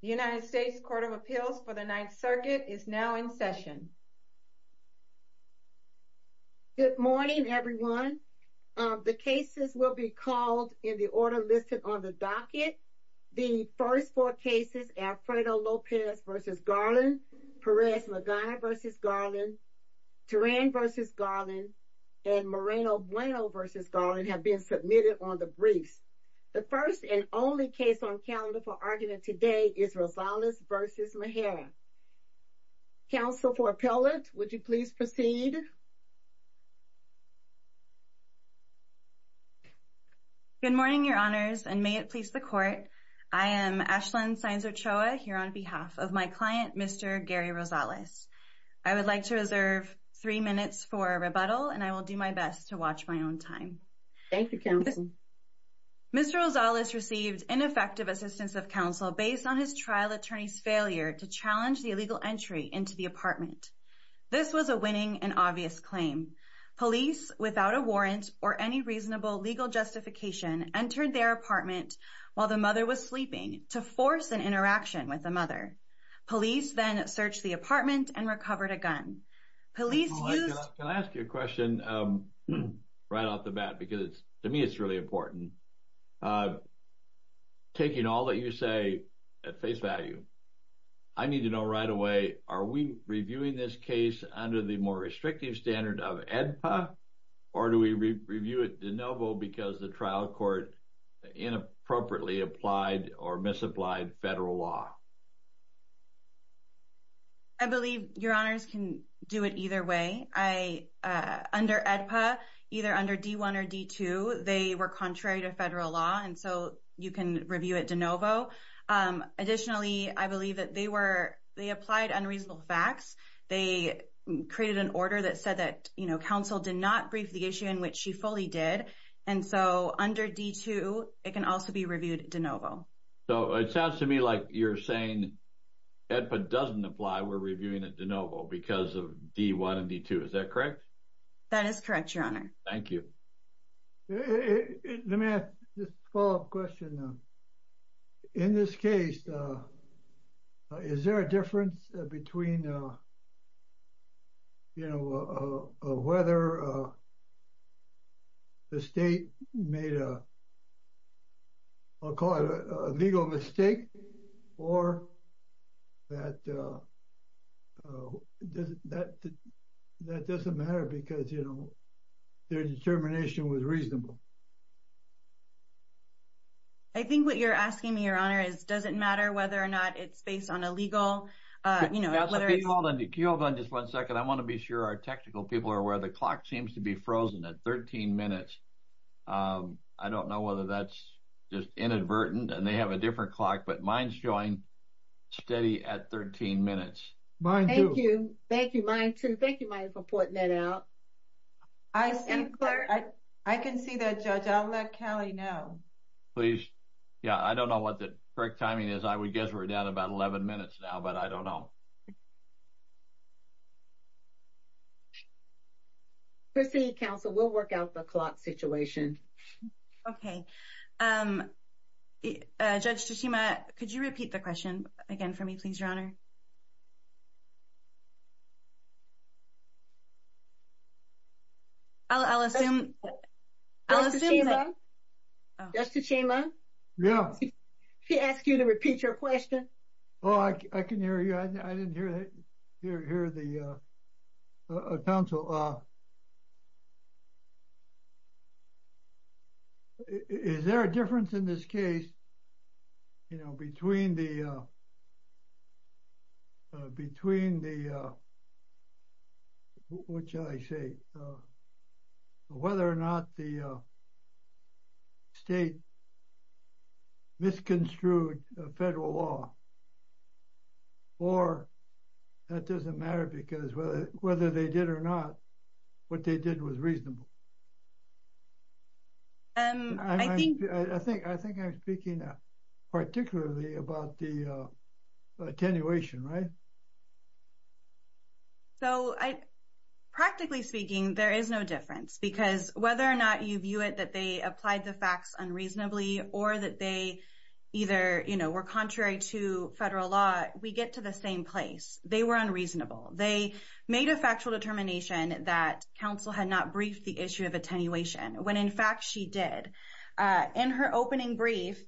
The United States Court of Appeals for the Ninth Circuit is now in session. Good morning, everyone. The cases will be called in the order listed on the docket. The first four cases are Alfredo Lopez v. Garland, Perez Magana v. Garland, Teran v. Garland, and Moreno Bueno v. Garland have been submitted on the briefs. The first and only case on calendar for argument today is Rosales v. Najera. Counsel for appellate, would you please proceed? Good morning, your honors, and may it please the court. I am Ashlyn Sainz-Ochoa here on behalf of my client, Mr. Gary Rosales. I would like to reserve three minutes for rebuttal and I will do my best to watch my own time. Thank you, counsel. Mr. Rosales received ineffective assistance of counsel based on his trial attorney's failure to challenge the illegal entry into the apartment. This was a winning and obvious claim. Police, without a warrant or any reasonable legal justification, entered their apartment while the mother was sleeping to force an interaction with the mother. Police then searched the apartment and recovered a gun. Police used... Can I ask you a question right off the bat because to me it's really important. Taking all that you say at face value, I need to know right away, are we reviewing this case under the more restrictive standard of AEDPA or do we review it de novo because the trial court inappropriately applied or misapplied federal law? I believe your honors can do it either way. Under AEDPA, either under D-1 or D-2, they were contrary to federal law and so you can review it de novo. Additionally, I believe that they applied unreasonable facts. They created an order that said that counsel did not brief the issue in which she fully did and so under D-2, it can also be reviewed de novo. It sounds to me like you're saying AEDPA doesn't apply, we're reviewing it de novo because of D-1 and D-2. Is that correct? That is correct, your honor. Thank you. Let me ask this follow-up question. In this case, is there a difference between whether the state made a, I'll call it a legal mistake or that doesn't matter because their determination was reasonable? I think what you're asking me, your honor, is does it matter whether or not it's based on a legal... Hold on just one second. I want to be sure our technical people are aware. The clock seems to be frozen at 13 minutes. I don't know whether that's just inadvertent and they have a different clock, but mine's showing steady at 13 minutes. Thank you. Mine too. Thank you, Mike, for putting that out. I can see that, Judge. I'll let Kelly know. Please. Yeah, I don't know what the correct timing is. I would guess we're down about 11 minutes now, but I don't know. Proceed, counsel. We'll work out the clock situation. Okay. Judge Tsushima, could you repeat the question again for me, please, your honor? I'll assume... Judge Tsushima? Oh. Judge Tsushima? Yeah. She asked you to repeat your question. Oh, I can hear you. I didn't hear the... Counsel, is there a difference in this case, you know, between the... What shall I say? Whether or not the state misconstrued a federal law or that doesn't matter because whether they did or not, what they did was reasonable. I think... I think you're talking about the attenuation, right? So practically speaking, there is no difference because whether or not you view it that they applied the facts unreasonably or that they either, you know, were contrary to federal law, we get to the same place. They were unreasonable. They made a factual determination that counsel had not briefed the issue of attenuation when, in fact, she did. In her opening brief,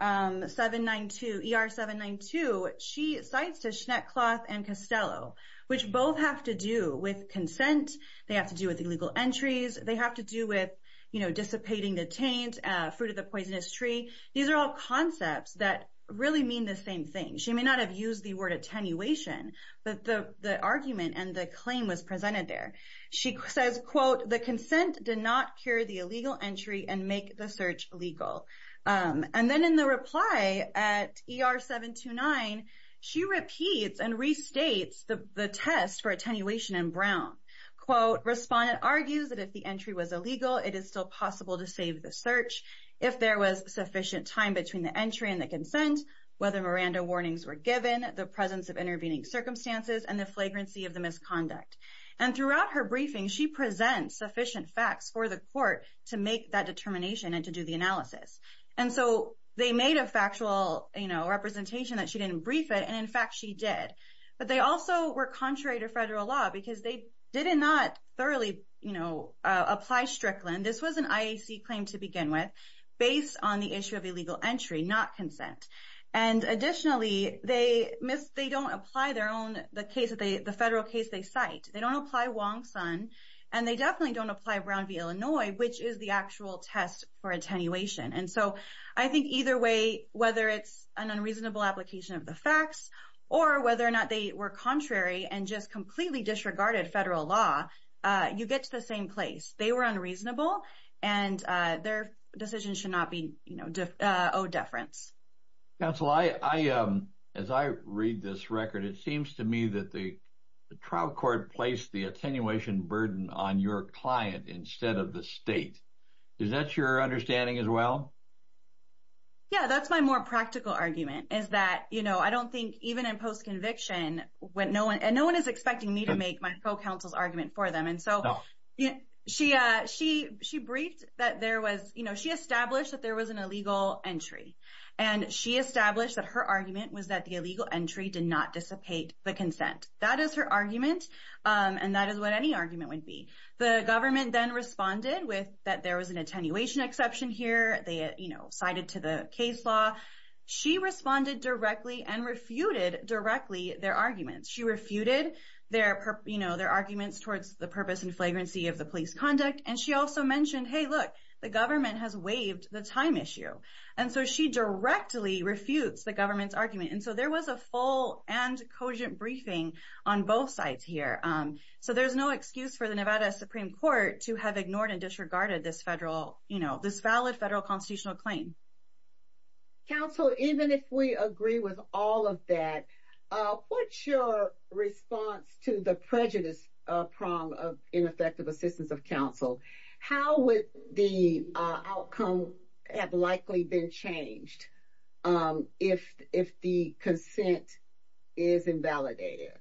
792 ER 792, she cites to Schneckloth and Costello, which both have to do with consent. They have to do with illegal entries. They have to do with, you know, dissipating the taint, fruit of the poisonous tree. These are all concepts that really mean the same thing. She may not have used the word attenuation, but the argument and the claim was presented there. She says, quote, the consent did not cure the illegal entry and make the search legal. And then in the reply at ER 729, she repeats and restates the test for attenuation in Brown. Quote, respondent argues that if the entry was illegal, it is still possible to save the search. If there was sufficient time between the entry and the consent, whether Miranda warnings were given, the presence of intervening circumstances and the flagrancy of the misconduct. And throughout her briefing, she presents sufficient facts for the court to make that determination and to do the analysis. And so they made a factual, you know, representation that she didn't brief it. And in fact, she did. But they also were contrary to federal law because they did not thoroughly, you know, apply Strickland. This was an IAC claim to begin with, based on the issue of illegal entry, not consent. And additionally, they don't apply their own, the federal case they cite. They don't apply Wong-Sun and they definitely don't apply Brown v. Illinois, which is the actual test for attenuation. And so I think either way, whether it's an unreasonable application of the facts or whether or not they were contrary and just completely disregarded federal law, you get to the same place. They were unreasonable and their decision should not be, you know, owed deference. Counsel, I, as I read this record, it seems to me that the trial court placed the attenuation burden on your client instead of the state. Is that your understanding as well? Yeah, that's my more practical argument, is that, you know, I don't think even in post-conviction when no one and no one is expecting me to make my co-counsel's argument for them. And so, you know, she, she, she briefed that there was, you know, she established that there was an illegal entry. And she established that her argument was that the illegal entry did not dissipate the consent. That is her argument. And that is what any argument would be. The government then responded with that there was an attenuation exception here. They, you know, cited to the case law. She responded directly and refuted directly their arguments. She refuted their, you know, their arguments towards the purpose and flagrancy of the police conduct. And she also mentioned, hey, look, the government has waived the time issue. And so she directly refutes the government's argument. And so there was a full and cogent briefing on both sides here. So there's no excuse for the Nevada Supreme Court to have ignored and disregarded this federal, you know, this valid federal constitutional claim. Counsel, even if we agree with all of that, what's your response to the prejudice prong of ineffective assistance of counsel? How would the outcome have likely been changed if the consent is invalidated?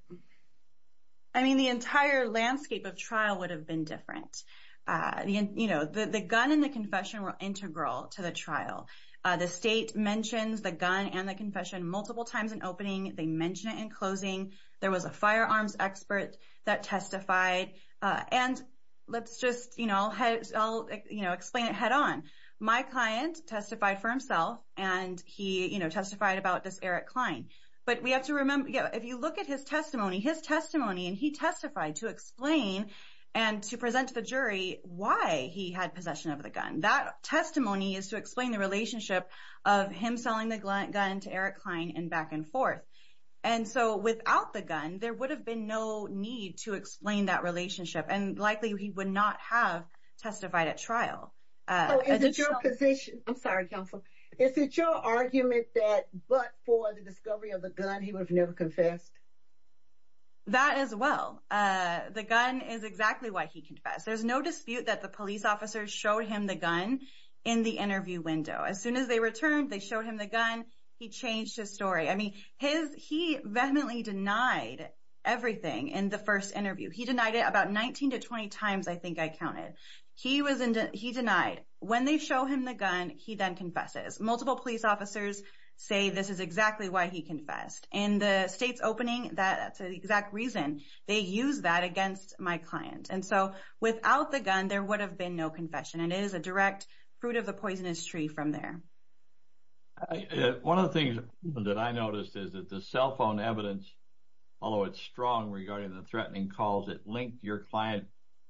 I mean, the entire landscape of trial would have been different. You know, the gun and the confession were integral to the trial. The state mentions the gun and the confession multiple times opening. They mention it in closing. There was a firearms expert that testified. And let's just, you know, I'll explain it head on. My client testified for himself, and he testified about this Eric Klein. But we have to remember, if you look at his testimony, his testimony, and he testified to explain and to present to the jury why he had possession of the gun. That testimony is to explain the relationship of him selling the gun to Eric Klein and back and forth. And so without the gun, there would have been no need to explain that relationship, and likely he would not have testified at trial. I'm sorry, counsel. Is it your argument that but for the discovery of the gun, he would have never confessed? That as well. The gun is exactly why he confessed. There's no dispute that the interview window as soon as they returned, they showed him the gun. He changed his story. I mean, his he vehemently denied everything in the first interview. He denied it about 19 to 20 times. I think I counted. He was he denied when they show him the gun. He then confesses. Multiple police officers say this is exactly why he confessed in the state's opening. That's the exact reason they use that against my client. And so without the gun, there would have been no confession. It is a direct fruit of the poisonous tree from there. One of the things that I noticed is that the cell phone evidence, although it's strong regarding the threatening calls that link your client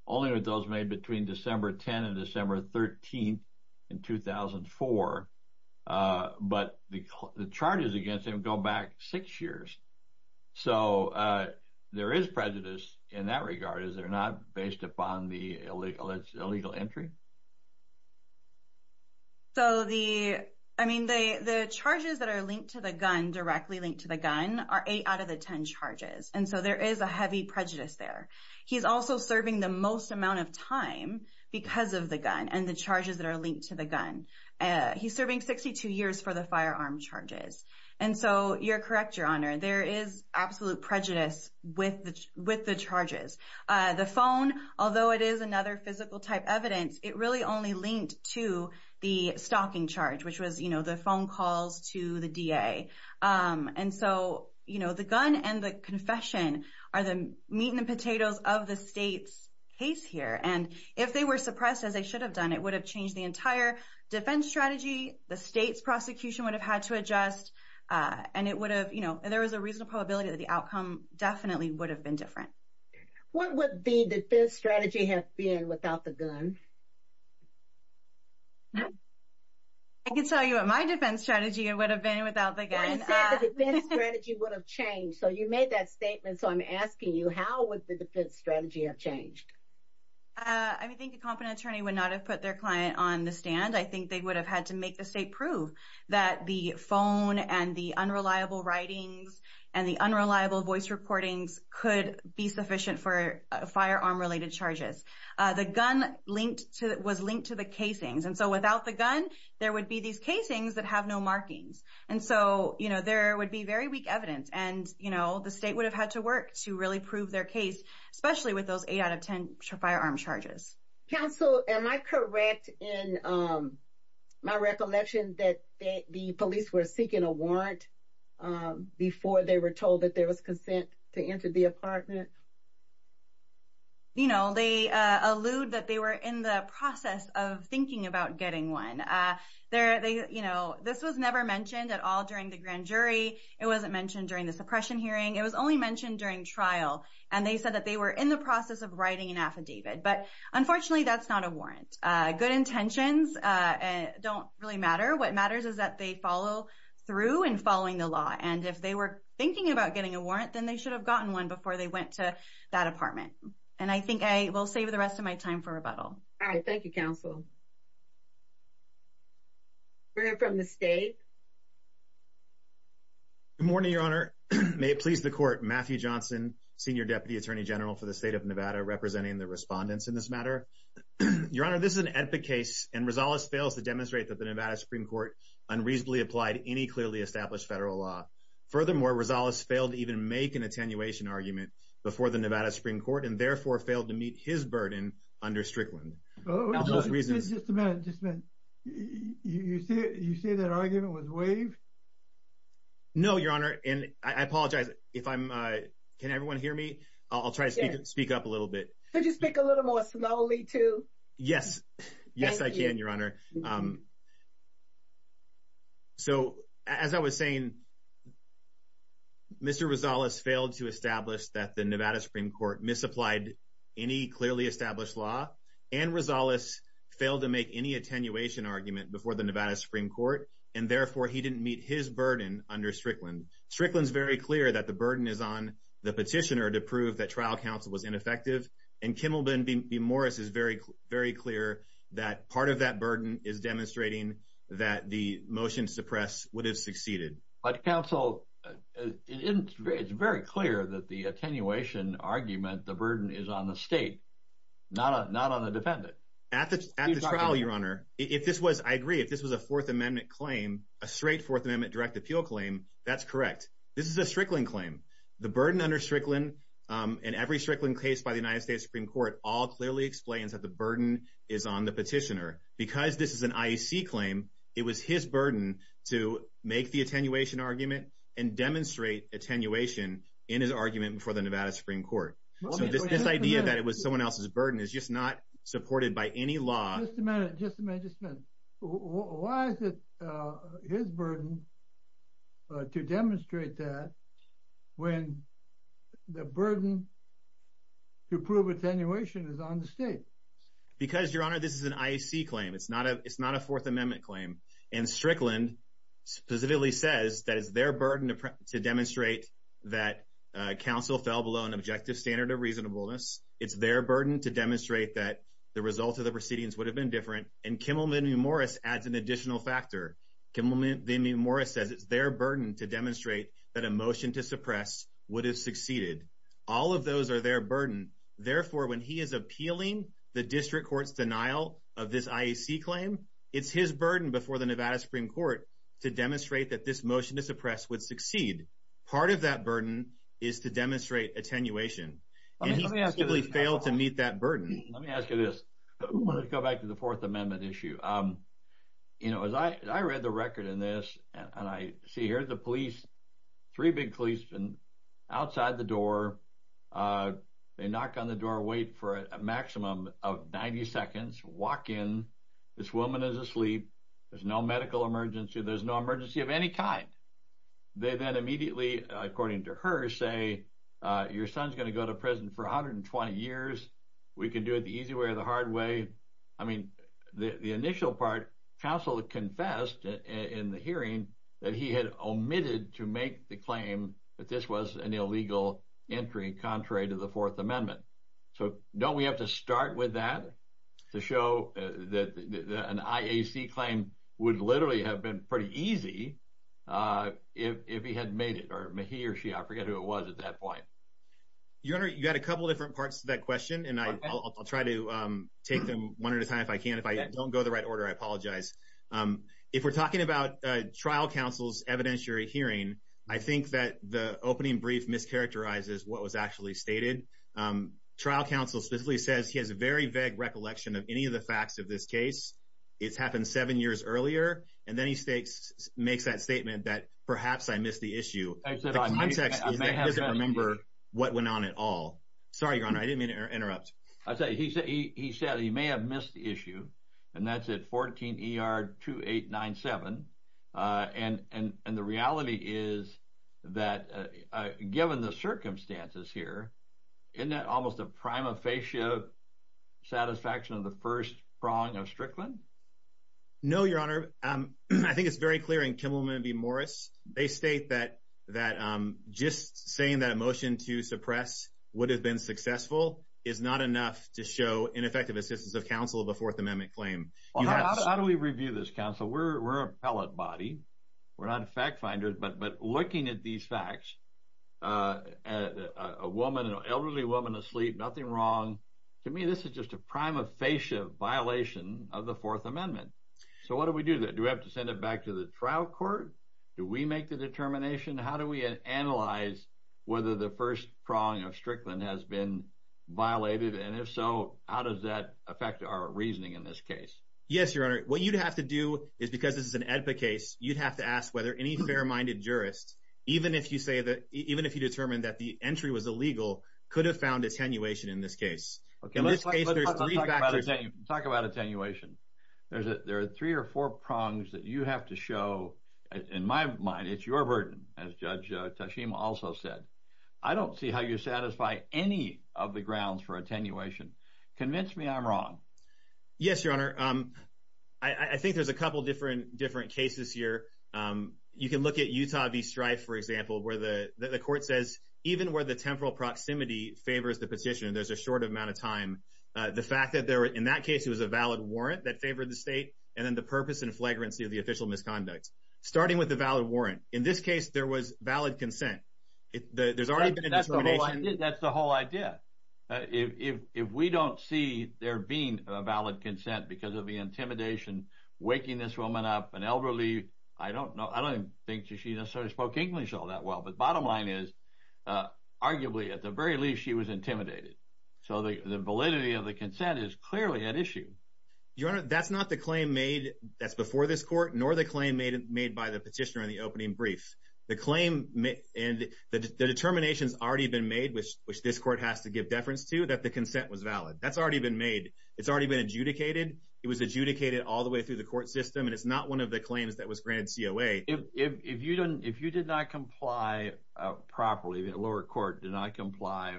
only with those made between December 10 and December 13 in 2004. But the charges against him go back six years. So there is prejudice in that regard. Is not based upon the illegal entry. So the I mean, the charges that are linked to the gun directly linked to the gun are eight out of the 10 charges. And so there is a heavy prejudice there. He's also serving the most amount of time because of the gun and the charges that are linked to the gun. He's serving 62 years for the firearm charges. And so you're correct, Your Honor. There is absolute prejudice with the charges. The phone, although it is another physical type evidence, it really only linked to the stalking charge, which was, you know, the phone calls to the DA. And so, you know, the gun and the confession are the meat and potatoes of the state's case here. And if they were suppressed, as they should have done, it would have changed the entire defense strategy. The state's prosecution would have had to adjust. And it would have, there is a reasonable probability that the outcome definitely would have been different. What would the defense strategy have been without the gun? I can tell you what my defense strategy would have been without the gun. You said the defense strategy would have changed. So you made that statement. So I'm asking you, how would the defense strategy have changed? I think a competent attorney would not have put their client on the stand. I think they would have had to make the state prove that the phone and the unreliable writings and the unreliable voice recordings could be sufficient for firearm-related charges. The gun linked to, was linked to the casings. And so without the gun, there would be these casings that have no markings. And so, you know, there would be very weak evidence and, you know, the state would have had to work to really prove their case, especially with those eight out of 10 firearm charges. Counsel, am I correct in my recollection that the police were seeking a warrant before they were told that there was consent to enter the apartment? You know, they allude that they were in the process of thinking about getting one. This was never mentioned at all during the grand jury. It wasn't mentioned during the suppression hearing. It was only mentioned during trial. And they said that they were in the process of writing an affidavit. But unfortunately, that's not a warrant. Good intentions don't really matter. What matters is that they follow through and following the law. And if they were thinking about getting a warrant, then they should have gotten one before they went to that apartment. And I think I will save the rest of my time for rebuttal. All right. Thank you, Counsel. We'll hear from the state. Good morning, Your Honor. May it please the Court. Matthew Johnson, Senior Deputy Attorney General for the State of Nevada, representing the respondents in this matter. Your Honor, this is an epic case. And Rosales fails to demonstrate that the Nevada Supreme Court unreasonably applied any clearly established federal law. Furthermore, Rosales failed to even make an attenuation argument before the Nevada Supreme Court and therefore failed to meet his burden under Strickland. Just a minute. You say that argument was waived? No, Your Honor. And I apologize if I'm... Can everyone hear me? I'll try to speak up a little bit. Could you speak a little more slowly, too? Yes. Yes, I can, Your Honor. So as I was saying, Mr. Rosales failed to establish that the Nevada Supreme Court misapplied any clearly established law. And Rosales failed to make any attenuation argument before the Nevada Supreme Court and therefore failed to meet his burden under Strickland. Strickland's very clear that the burden is on the petitioner to prove that trial counsel was ineffective. And Kimmelman v. Morris is very clear that part of that burden is demonstrating that the motion to press would have succeeded. But counsel, it's very clear that the attenuation argument, the burden is on the state, not on the defendant. At the trial, Your Honor, if this was, I agree, if this was a Fourth Amendment claim, a straight Fourth Amendment direct appeal claim, that's correct. This is a Strickland claim. The burden under Strickland and every Strickland case by the United States Supreme Court all clearly explains that the burden is on the petitioner. Because this is an IEC claim, it was his burden to make the attenuation argument and demonstrate attenuation in his argument before the Nevada Supreme Court. So this idea that it was someone else's burden is just not supported by any law. Just a minute. Why is it his burden to demonstrate that when the burden to prove attenuation is on the state? Because, Your Honor, this is an IEC claim. It's not a Fourth Amendment claim. And Strickland specifically says that it's their burden to demonstrate that counsel fell below an objective standard of reasonableness. It's their burden to demonstrate that the result of the proceedings would have been different. And Kimmelman v. Morris adds an additional factor. Kimmelman v. Morris says it's their burden to demonstrate that a motion to suppress would have succeeded. All of those are their burden. Therefore, when he is appealing the district court's denial of this IEC claim, it's his burden before the Nevada Supreme Court to demonstrate that this motion to suppress would succeed. Part of that burden is to demonstrate attenuation. And he simply failed to meet that burden. Let me ask you this. I want to go back to the Fourth Amendment issue. You know, as I read the record in this, and I see here the police, three big policemen outside the door. They knock on the door, wait for a maximum of 90 seconds, walk in. This woman is asleep. There's no medical emergency. There's no emergency of any kind. They then immediately, according to her, say, your son's going to go to prison for 120 years. We can do it the easy way or the hard way. I mean, the initial part, counsel confessed in the hearing that he had omitted to make the claim that this was an illegal entry contrary to the Fourth Amendment. So don't we have to start with that to show that an IEC claim would literally have been pretty easy if he had made it or he or she. I forget who it was at that point. Your Honor, you got a couple different parts to that question, and I'll try to take them one at a time if I can. If I don't go the right order, I apologize. If we're talking about trial counsel's evidentiary hearing, I think that the opening brief mischaracterizes what was actually stated. Trial counsel specifically says he has a very vague recollection of any of the facts of this case. It's happened seven years earlier, and then he makes that statement that perhaps I missed the issue. The context is that he doesn't remember what went on at all. Sorry, Your Honor, I didn't mean to interrupt. He said he may have missed the issue, and that's at 14 ER 2897. And the reality is that given the circumstances here, isn't that almost a prima facie satisfaction of the first wrong of Strickland? No, Your Honor, I think it's very clear in Kimmelman v. Morris. They state that just saying that a motion to suppress would have been successful is not enough to show ineffective assistance of counsel of a Fourth Amendment claim. How do we review this, counsel? We're an appellate body. We're not fact finders. But looking at these facts, a woman, an elderly woman asleep, nothing wrong to me. This is just a prima facie violation of the Fourth Amendment. So what do we do that? Do we have to send it back to the trial court? Do we make the determination? How do we analyze whether the first prong of Strickland has been violated? And if so, how does that affect our reasoning in this case? Yes, Your Honor, what you'd have to do is because this is an epic case, you'd have to ask whether any fair minded jurists, even if you say that even if you determined that the entry was illegal, could have found attenuation in this case. Let's talk about attenuation. There are three or four prongs that you have to show. In my mind, it's your burden, as Judge Tashima also said. I don't see how you satisfy any of the grounds for attenuation. Convince me I'm wrong. Yes, Your Honor. I think there's a couple different cases here. You can look at Utah v. Strife, for example, where the court says, even where the temporal proximity favors the petition, there's a short amount of time. The fact that in that case, it was a valid warrant that favored the state, and then the purpose and flagrancy of the official misconduct. Starting with the valid warrant, in this case, there was valid consent. There's already been an attenuation. That's the whole idea. If we don't see there being a valid consent because of the intimidation, waking this woman up, an elderly, I don't think she necessarily spoke English all that well. Bottom line is, arguably, at the very least, she was intimidated. The validity of the consent is clearly at issue. Your Honor, that's not the claim made that's before this court, nor the claim made by the petitioner in the opening brief. The claim and the determination has already been made, which this court has to give deference to, that the consent was valid. That's already been made. It's already been adjudicated. It was adjudicated all the way through the court system, and it's not one of the claims that was granted COA. If you did not comply properly, the lower court did not comply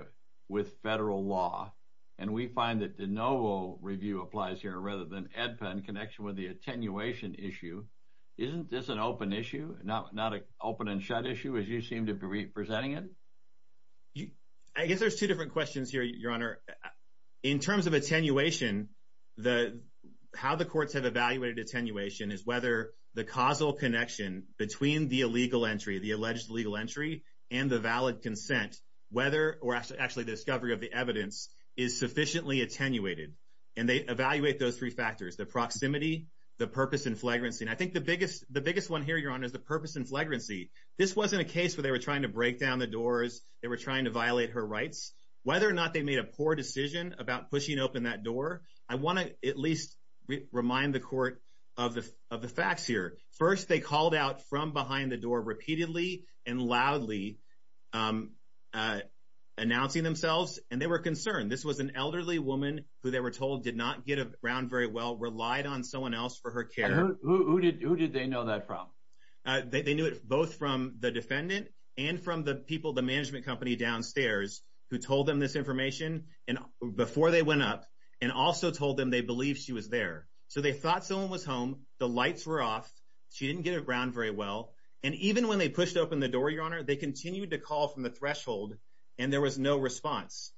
with federal law, and we find that de novo review applies here rather than EDPA in connection with the attenuation issue, isn't this an open issue, not an open and shut issue, as you seem to be presenting it? I guess there's two different questions here, Your Honor. In terms of attenuation, how the courts have evaluated attenuation is whether the causal connection between the illegal entry, the alleged illegal entry, and the valid consent, whether, or actually the discovery of the evidence, is sufficiently attenuated. They evaluate those three factors, the proximity, the purpose and flagrancy. I think the biggest one here, Your Honor, is the purpose and flagrancy. This wasn't a case where they were trying to break down the doors, they were trying to violate her rights. Whether or not they made a poor decision about pushing open that door, I want to at least remind the court of the facts here. First, they called out from behind the door repeatedly and loudly announcing themselves, and they were concerned. This was an elderly woman who they were told did not get around very well, relied on someone else for her care. Who did they know that from? They knew it both from the defendant and from the people, the management company downstairs, who told them this information before they went up, and also told them they believed she was there. So they thought someone was home, the lights were off, she didn't get around very well, and even when they pushed open the door, Your Honor, they continued to call from the threshold, and there was no response.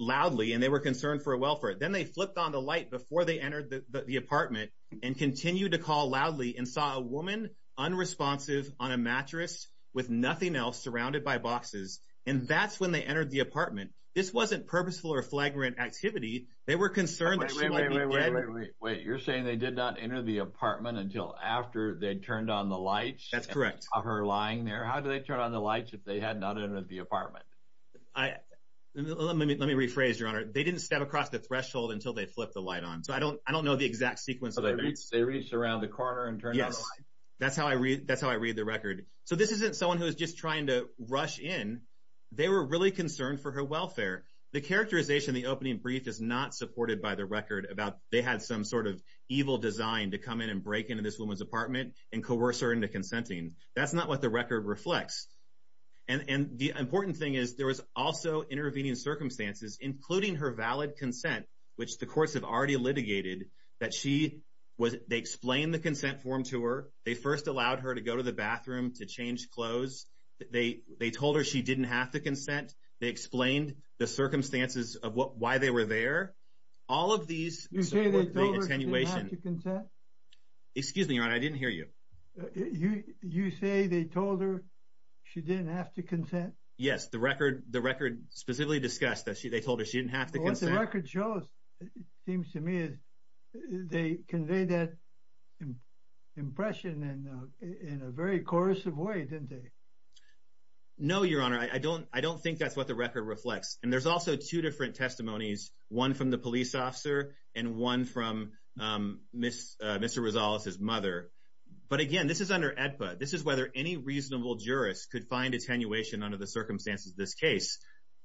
Loudly, and they were concerned for a welfare. Then they flipped on the light before they entered the apartment, and continued to call loudly, and saw a woman, unresponsive, on a mattress, with nothing else, surrounded by boxes, and that's when they entered the apartment. This wasn't purposeful or flagrant activity, they were concerned that she might be dead. Wait, you're saying they did not enter the apartment until after they turned on the lights? That's correct. Of her lying there? How did they turn on the lights if they had not entered the apartment? Let me rephrase, Your Honor, they didn't step across the threshold until they flipped the light on, so I don't know the exact sequence of events. They reached around the corner and turned on the light? Yes, that's how I read the record. So this isn't someone who is just trying to rush in, they were really concerned for her welfare. The characterization in the opening brief is not supported by the record about they had some sort of evil design to come in and break into this woman's apartment, and coerce her into consenting. That's not what the record reflects, and the important thing is there was also intervening circumstances, including her valid consent, which the courts have already litigated, that they explained the consent form to her, they first allowed her to go to the bathroom to change clothes, they told her she didn't have to consent, they explained the circumstances of why they were there. All of these... You say they told her she didn't have to consent? Excuse me, Your Honor, I didn't hear you. You say they told her she didn't have to consent? Yes, the record specifically discussed that they told her she didn't have to consent. What the record shows, it seems to me, is they conveyed that impression in a very coercive way, didn't they? No, Your Honor, I don't think that's what the record reflects. And there's also two different testimonies, one from the police officer and one from Mr. Rosales' mother. But again, this is under AEDPA, this is whether any reasonable jurist could find attenuation under circumstances of this case,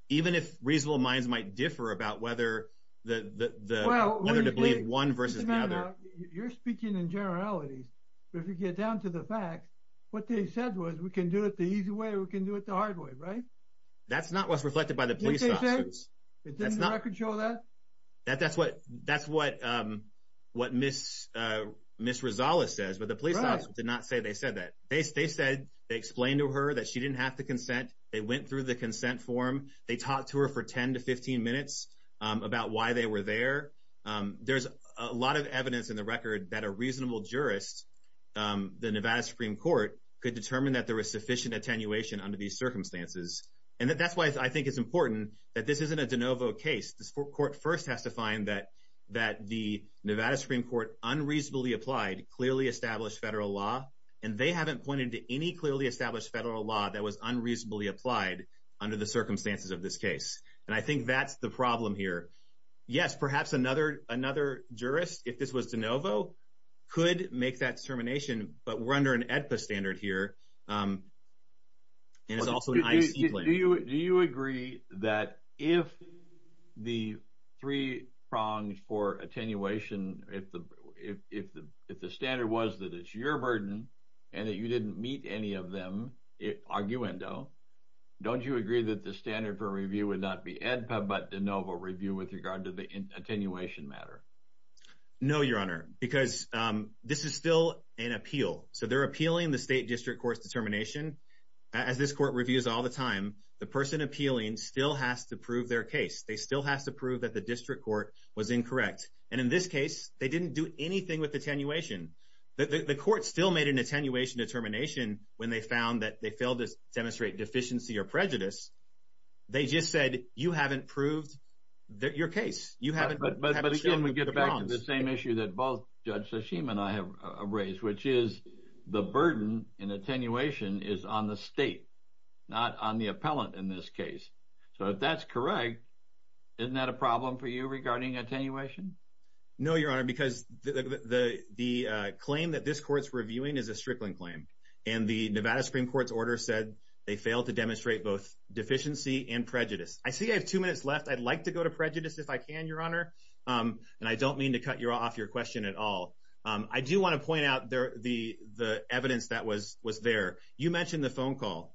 even if reasonable minds might differ about whether to believe one versus the other. You're speaking in generalities, but if you get down to the facts, what they said was, we can do it the easy way or we can do it the hard way, right? That's not what's reflected by the police officers. Didn't the record show that? That's what Ms. Rosales says, but the police officers did not say they said that. They said they explained to her that she didn't have to go through the consent form. They talked to her for 10 to 15 minutes about why they were there. There's a lot of evidence in the record that a reasonable jurist, the Nevada Supreme Court, could determine that there was sufficient attenuation under these circumstances. And that's why I think it's important that this isn't a de novo case. The court first has to find that the Nevada Supreme Court unreasonably applied clearly established federal law, and they haven't pointed to any clearly established federal law that was unreasonably applied under the circumstances of this case. And I think that's the problem here. Yes, perhaps another jurist, if this was de novo, could make that determination, but we're under an AEDPA standard here, and it's also an IEC plan. Do you agree that if the three prongs for attenuation, if the standard was that it's your burden and that you didn't meet any of them, arguendo, don't you agree that the standard for review would not be AEDPA but de novo review with regard to the attenuation matter? No, Your Honor, because this is still an appeal. So they're appealing the state district court's determination. As this court reviews all the time, the person appealing still has to prove their case. They still have to prove that the district court was incorrect. And in this case, they didn't do anything with attenuation. The court still made an attenuation determination when they found that they failed to demonstrate deficiency or prejudice. They just said, you haven't proved your case. But again, we get back to the same issue that both Judge Tsushima and I have raised, which is the burden in attenuation is on the state, not on the appellant in this case. So if that's correct, isn't that a problem for you regarding attenuation? No, Your Honor, because the claim that this court's reviewing is a strickling claim. And the Nevada Supreme Court's order said they failed to demonstrate both deficiency and prejudice. I see I have two minutes left. I'd like to go to prejudice if I can, Your Honor. And I don't mean to cut you off your question at all. I do want to point out the evidence that was there. You mentioned the phone call.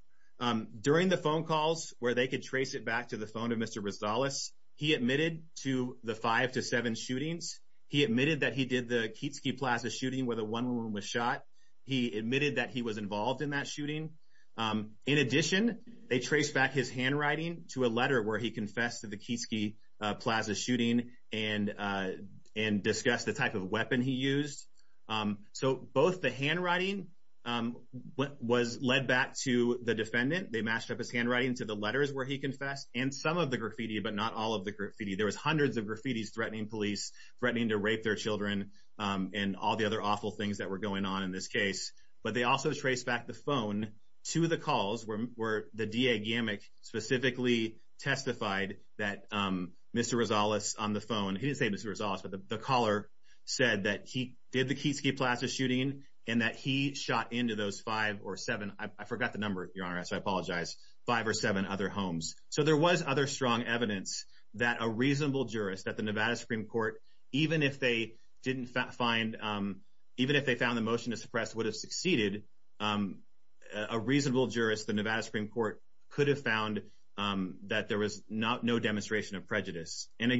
During the phone calls where they could trace it back to the phone of Mr. Rosales, he admitted to the five to seven shootings. He admitted that he did the Keatsky Plaza shooting where the one woman was shot. He admitted that he was involved in that shooting. In addition, they traced back his handwriting to a letter where he confessed to the Keatsky Plaza shooting and discussed the type of weapon he used. So both the handwriting, what was led back to the defendant, they matched up his handwriting to the letters where he confessed and some of the graffiti, but not all of the graffiti. There was hundreds of graffitis threatening police, threatening to rape their children and all the other awful things that were going on in this case. But they also traced back the phone to the calls where the DA Gamak specifically testified that Mr. Rosales on the phone, he didn't say Mr. Rosales, but the caller said that he did the Keatsky Plaza shooting and that he shot into those five or seven, I forgot the number, your honor, so I apologize, five or seven other homes. So there was other strong evidence that a reasonable jurist at the Nevada Supreme Court, even if they didn't find, even if they found the motion to suppress would have succeeded, a reasonable jurist, the Nevada Supreme Court could have found that there was no demonstration of prejudice. And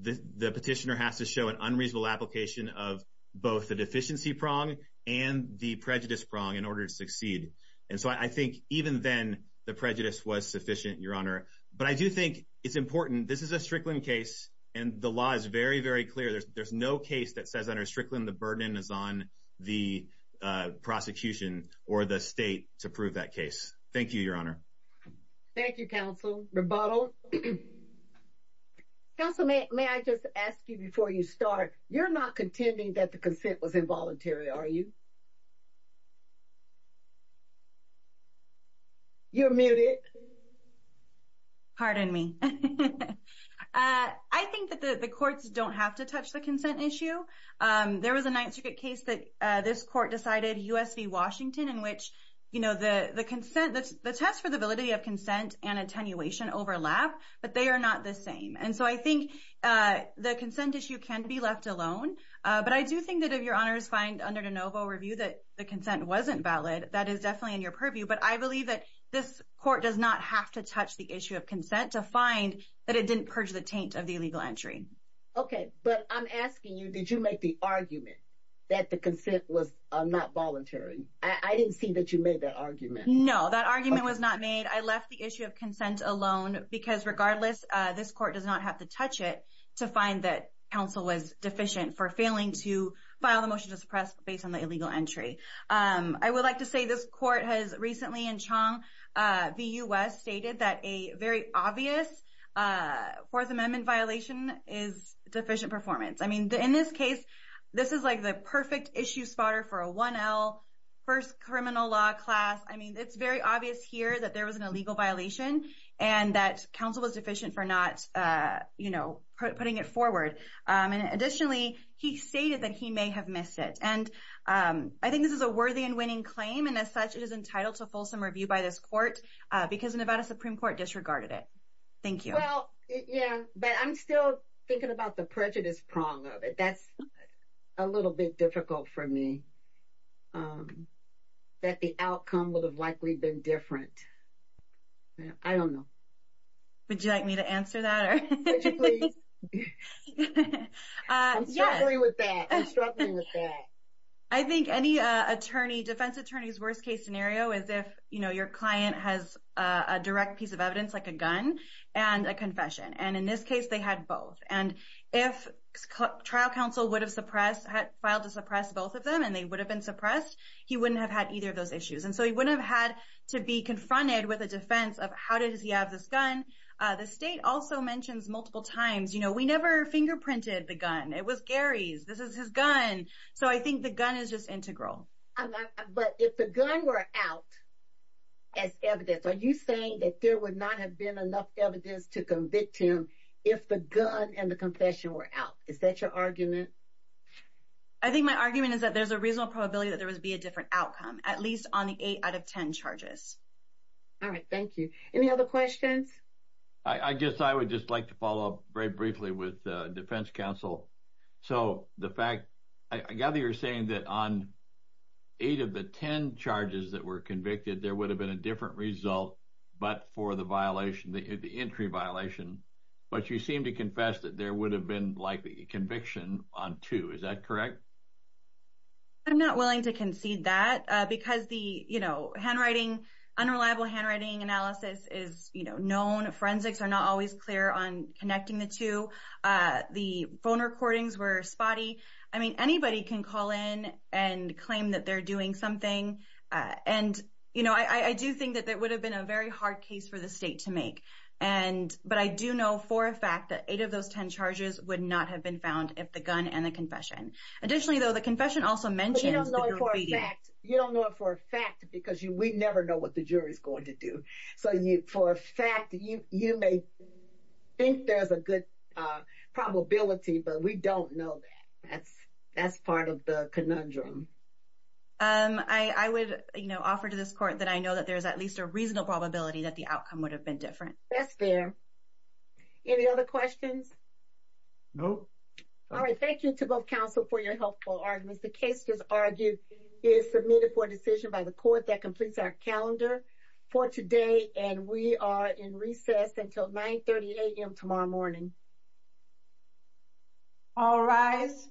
the petitioner has to show an unreasonable application of both the deficiency prong and the prejudice prong in order to succeed. And so I think even then, the prejudice was sufficient, your honor. But I do think it's important. This is a Strickland case. And the law is very, very clear. There's no case that says under Strickland, the burden is on the prosecution or the state to prove that case. Thank you, your honor. Thank you, counsel rebuttal. Counsel, may I just ask you before you start, you're not contending that the consent was involuntary, are you? You're muted. Pardon me. I think that the courts don't have to touch the consent issue. There was a Ninth Circuit case that this court decided, U.S. v. Washington, in which the consent, the test for the validity of consent and attenuation overlap, but they are not the same. And so I think the consent issue can be left alone. But I do think that if your honors find under de novo review that the consent wasn't valid, that is definitely in your purview. But I believe that this court does not have to touch the issue of consent to find that it didn't purge the taint of the illegal entry. Okay, but I'm asking you, did you make the argument that the consent was not voluntary? I didn't see that you made that argument. No, that argument was not made. I left the issue of consent alone because regardless, this court does not have to touch it to find that counsel was deficient for failing to file the motion to suppress based on the illegal entry. I would like to say this court has recently in Chong v. U.S. stated that a very obvious Fourth Amendment violation is deficient performance. I this is like the perfect issue spotter for a 1L, first criminal law class. I mean, it's very obvious here that there was an illegal violation and that counsel was deficient for not, you know, putting it forward. And additionally, he stated that he may have missed it. And I think this is a worthy and winning claim. And as such, it is entitled to fulsome review by this court because Nevada Supreme Court disregarded it. Thank you. Well, yeah, but I'm still thinking about the prejudice prong of it. That's a little bit difficult for me. That the outcome would have likely been different. I don't know. Would you like me to answer that? I'm struggling with that. I'm struggling with that. I think any attorney, defense attorney's worst case scenario is if, you know, your client has a direct piece of evidence like a gun and a confession. And in this case, they had both. And if trial counsel would have suppressed, had filed to suppress both of them and they would have been suppressed, he wouldn't have had either of those issues. And so he wouldn't have had to be confronted with a defense of how does he have this gun. The state also mentions multiple times, you know, we never fingerprinted the gun. It was Gary's. This is his gun. So I think the gun is just integral. But if the gun were out as evidence, are you saying that there would not have been enough evidence to convict him if the gun and the confession were out? Is that your argument? I think my argument is that there's a reasonable probability that there would be a different outcome, at least on the eight out of 10 charges. All right. Thank you. Any other questions? I guess I would just like to follow up very briefly with defense counsel. So the fact, I gather you're saying that on eight of the 10 charges that were convicted, there would have been a different result, but for the violation, the entry violation. But you seem to confess that there would have been likely a conviction on two. Is that correct? I'm not willing to concede that because the, you know, handwriting, unreliable handwriting analysis is, you know, known. Forensics are not always clear on connecting the two. The phone recordings were spotty. I mean, anybody can call in and claim that they're doing something. And, you know, I do think that that would have been a very hard case for the state to make. And, but I do know for a fact that eight of those 10 charges would not have been found if the gun and the confession. Additionally, though, the confession also mentioned... You don't know it for a fact. You don't know it for a fact because we never know what the jury is going to do. So for a fact, you may think there's a good probability, but we don't know that. That's part of the conundrum. Um, I would, you know, offer to this court that I know that there's at least a reasonable probability that the outcome would have been different. That's fair. Any other questions? No. All right. Thank you to both counsel for your helpful arguments. The case is argued is submitted for a decision by the court that completes our calendar for today. And we are in recess until 9.30 a.m. tomorrow morning. All rise.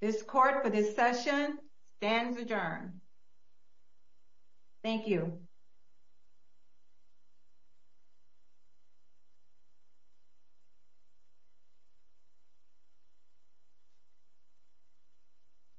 This court for this session stands adjourned. Thank you.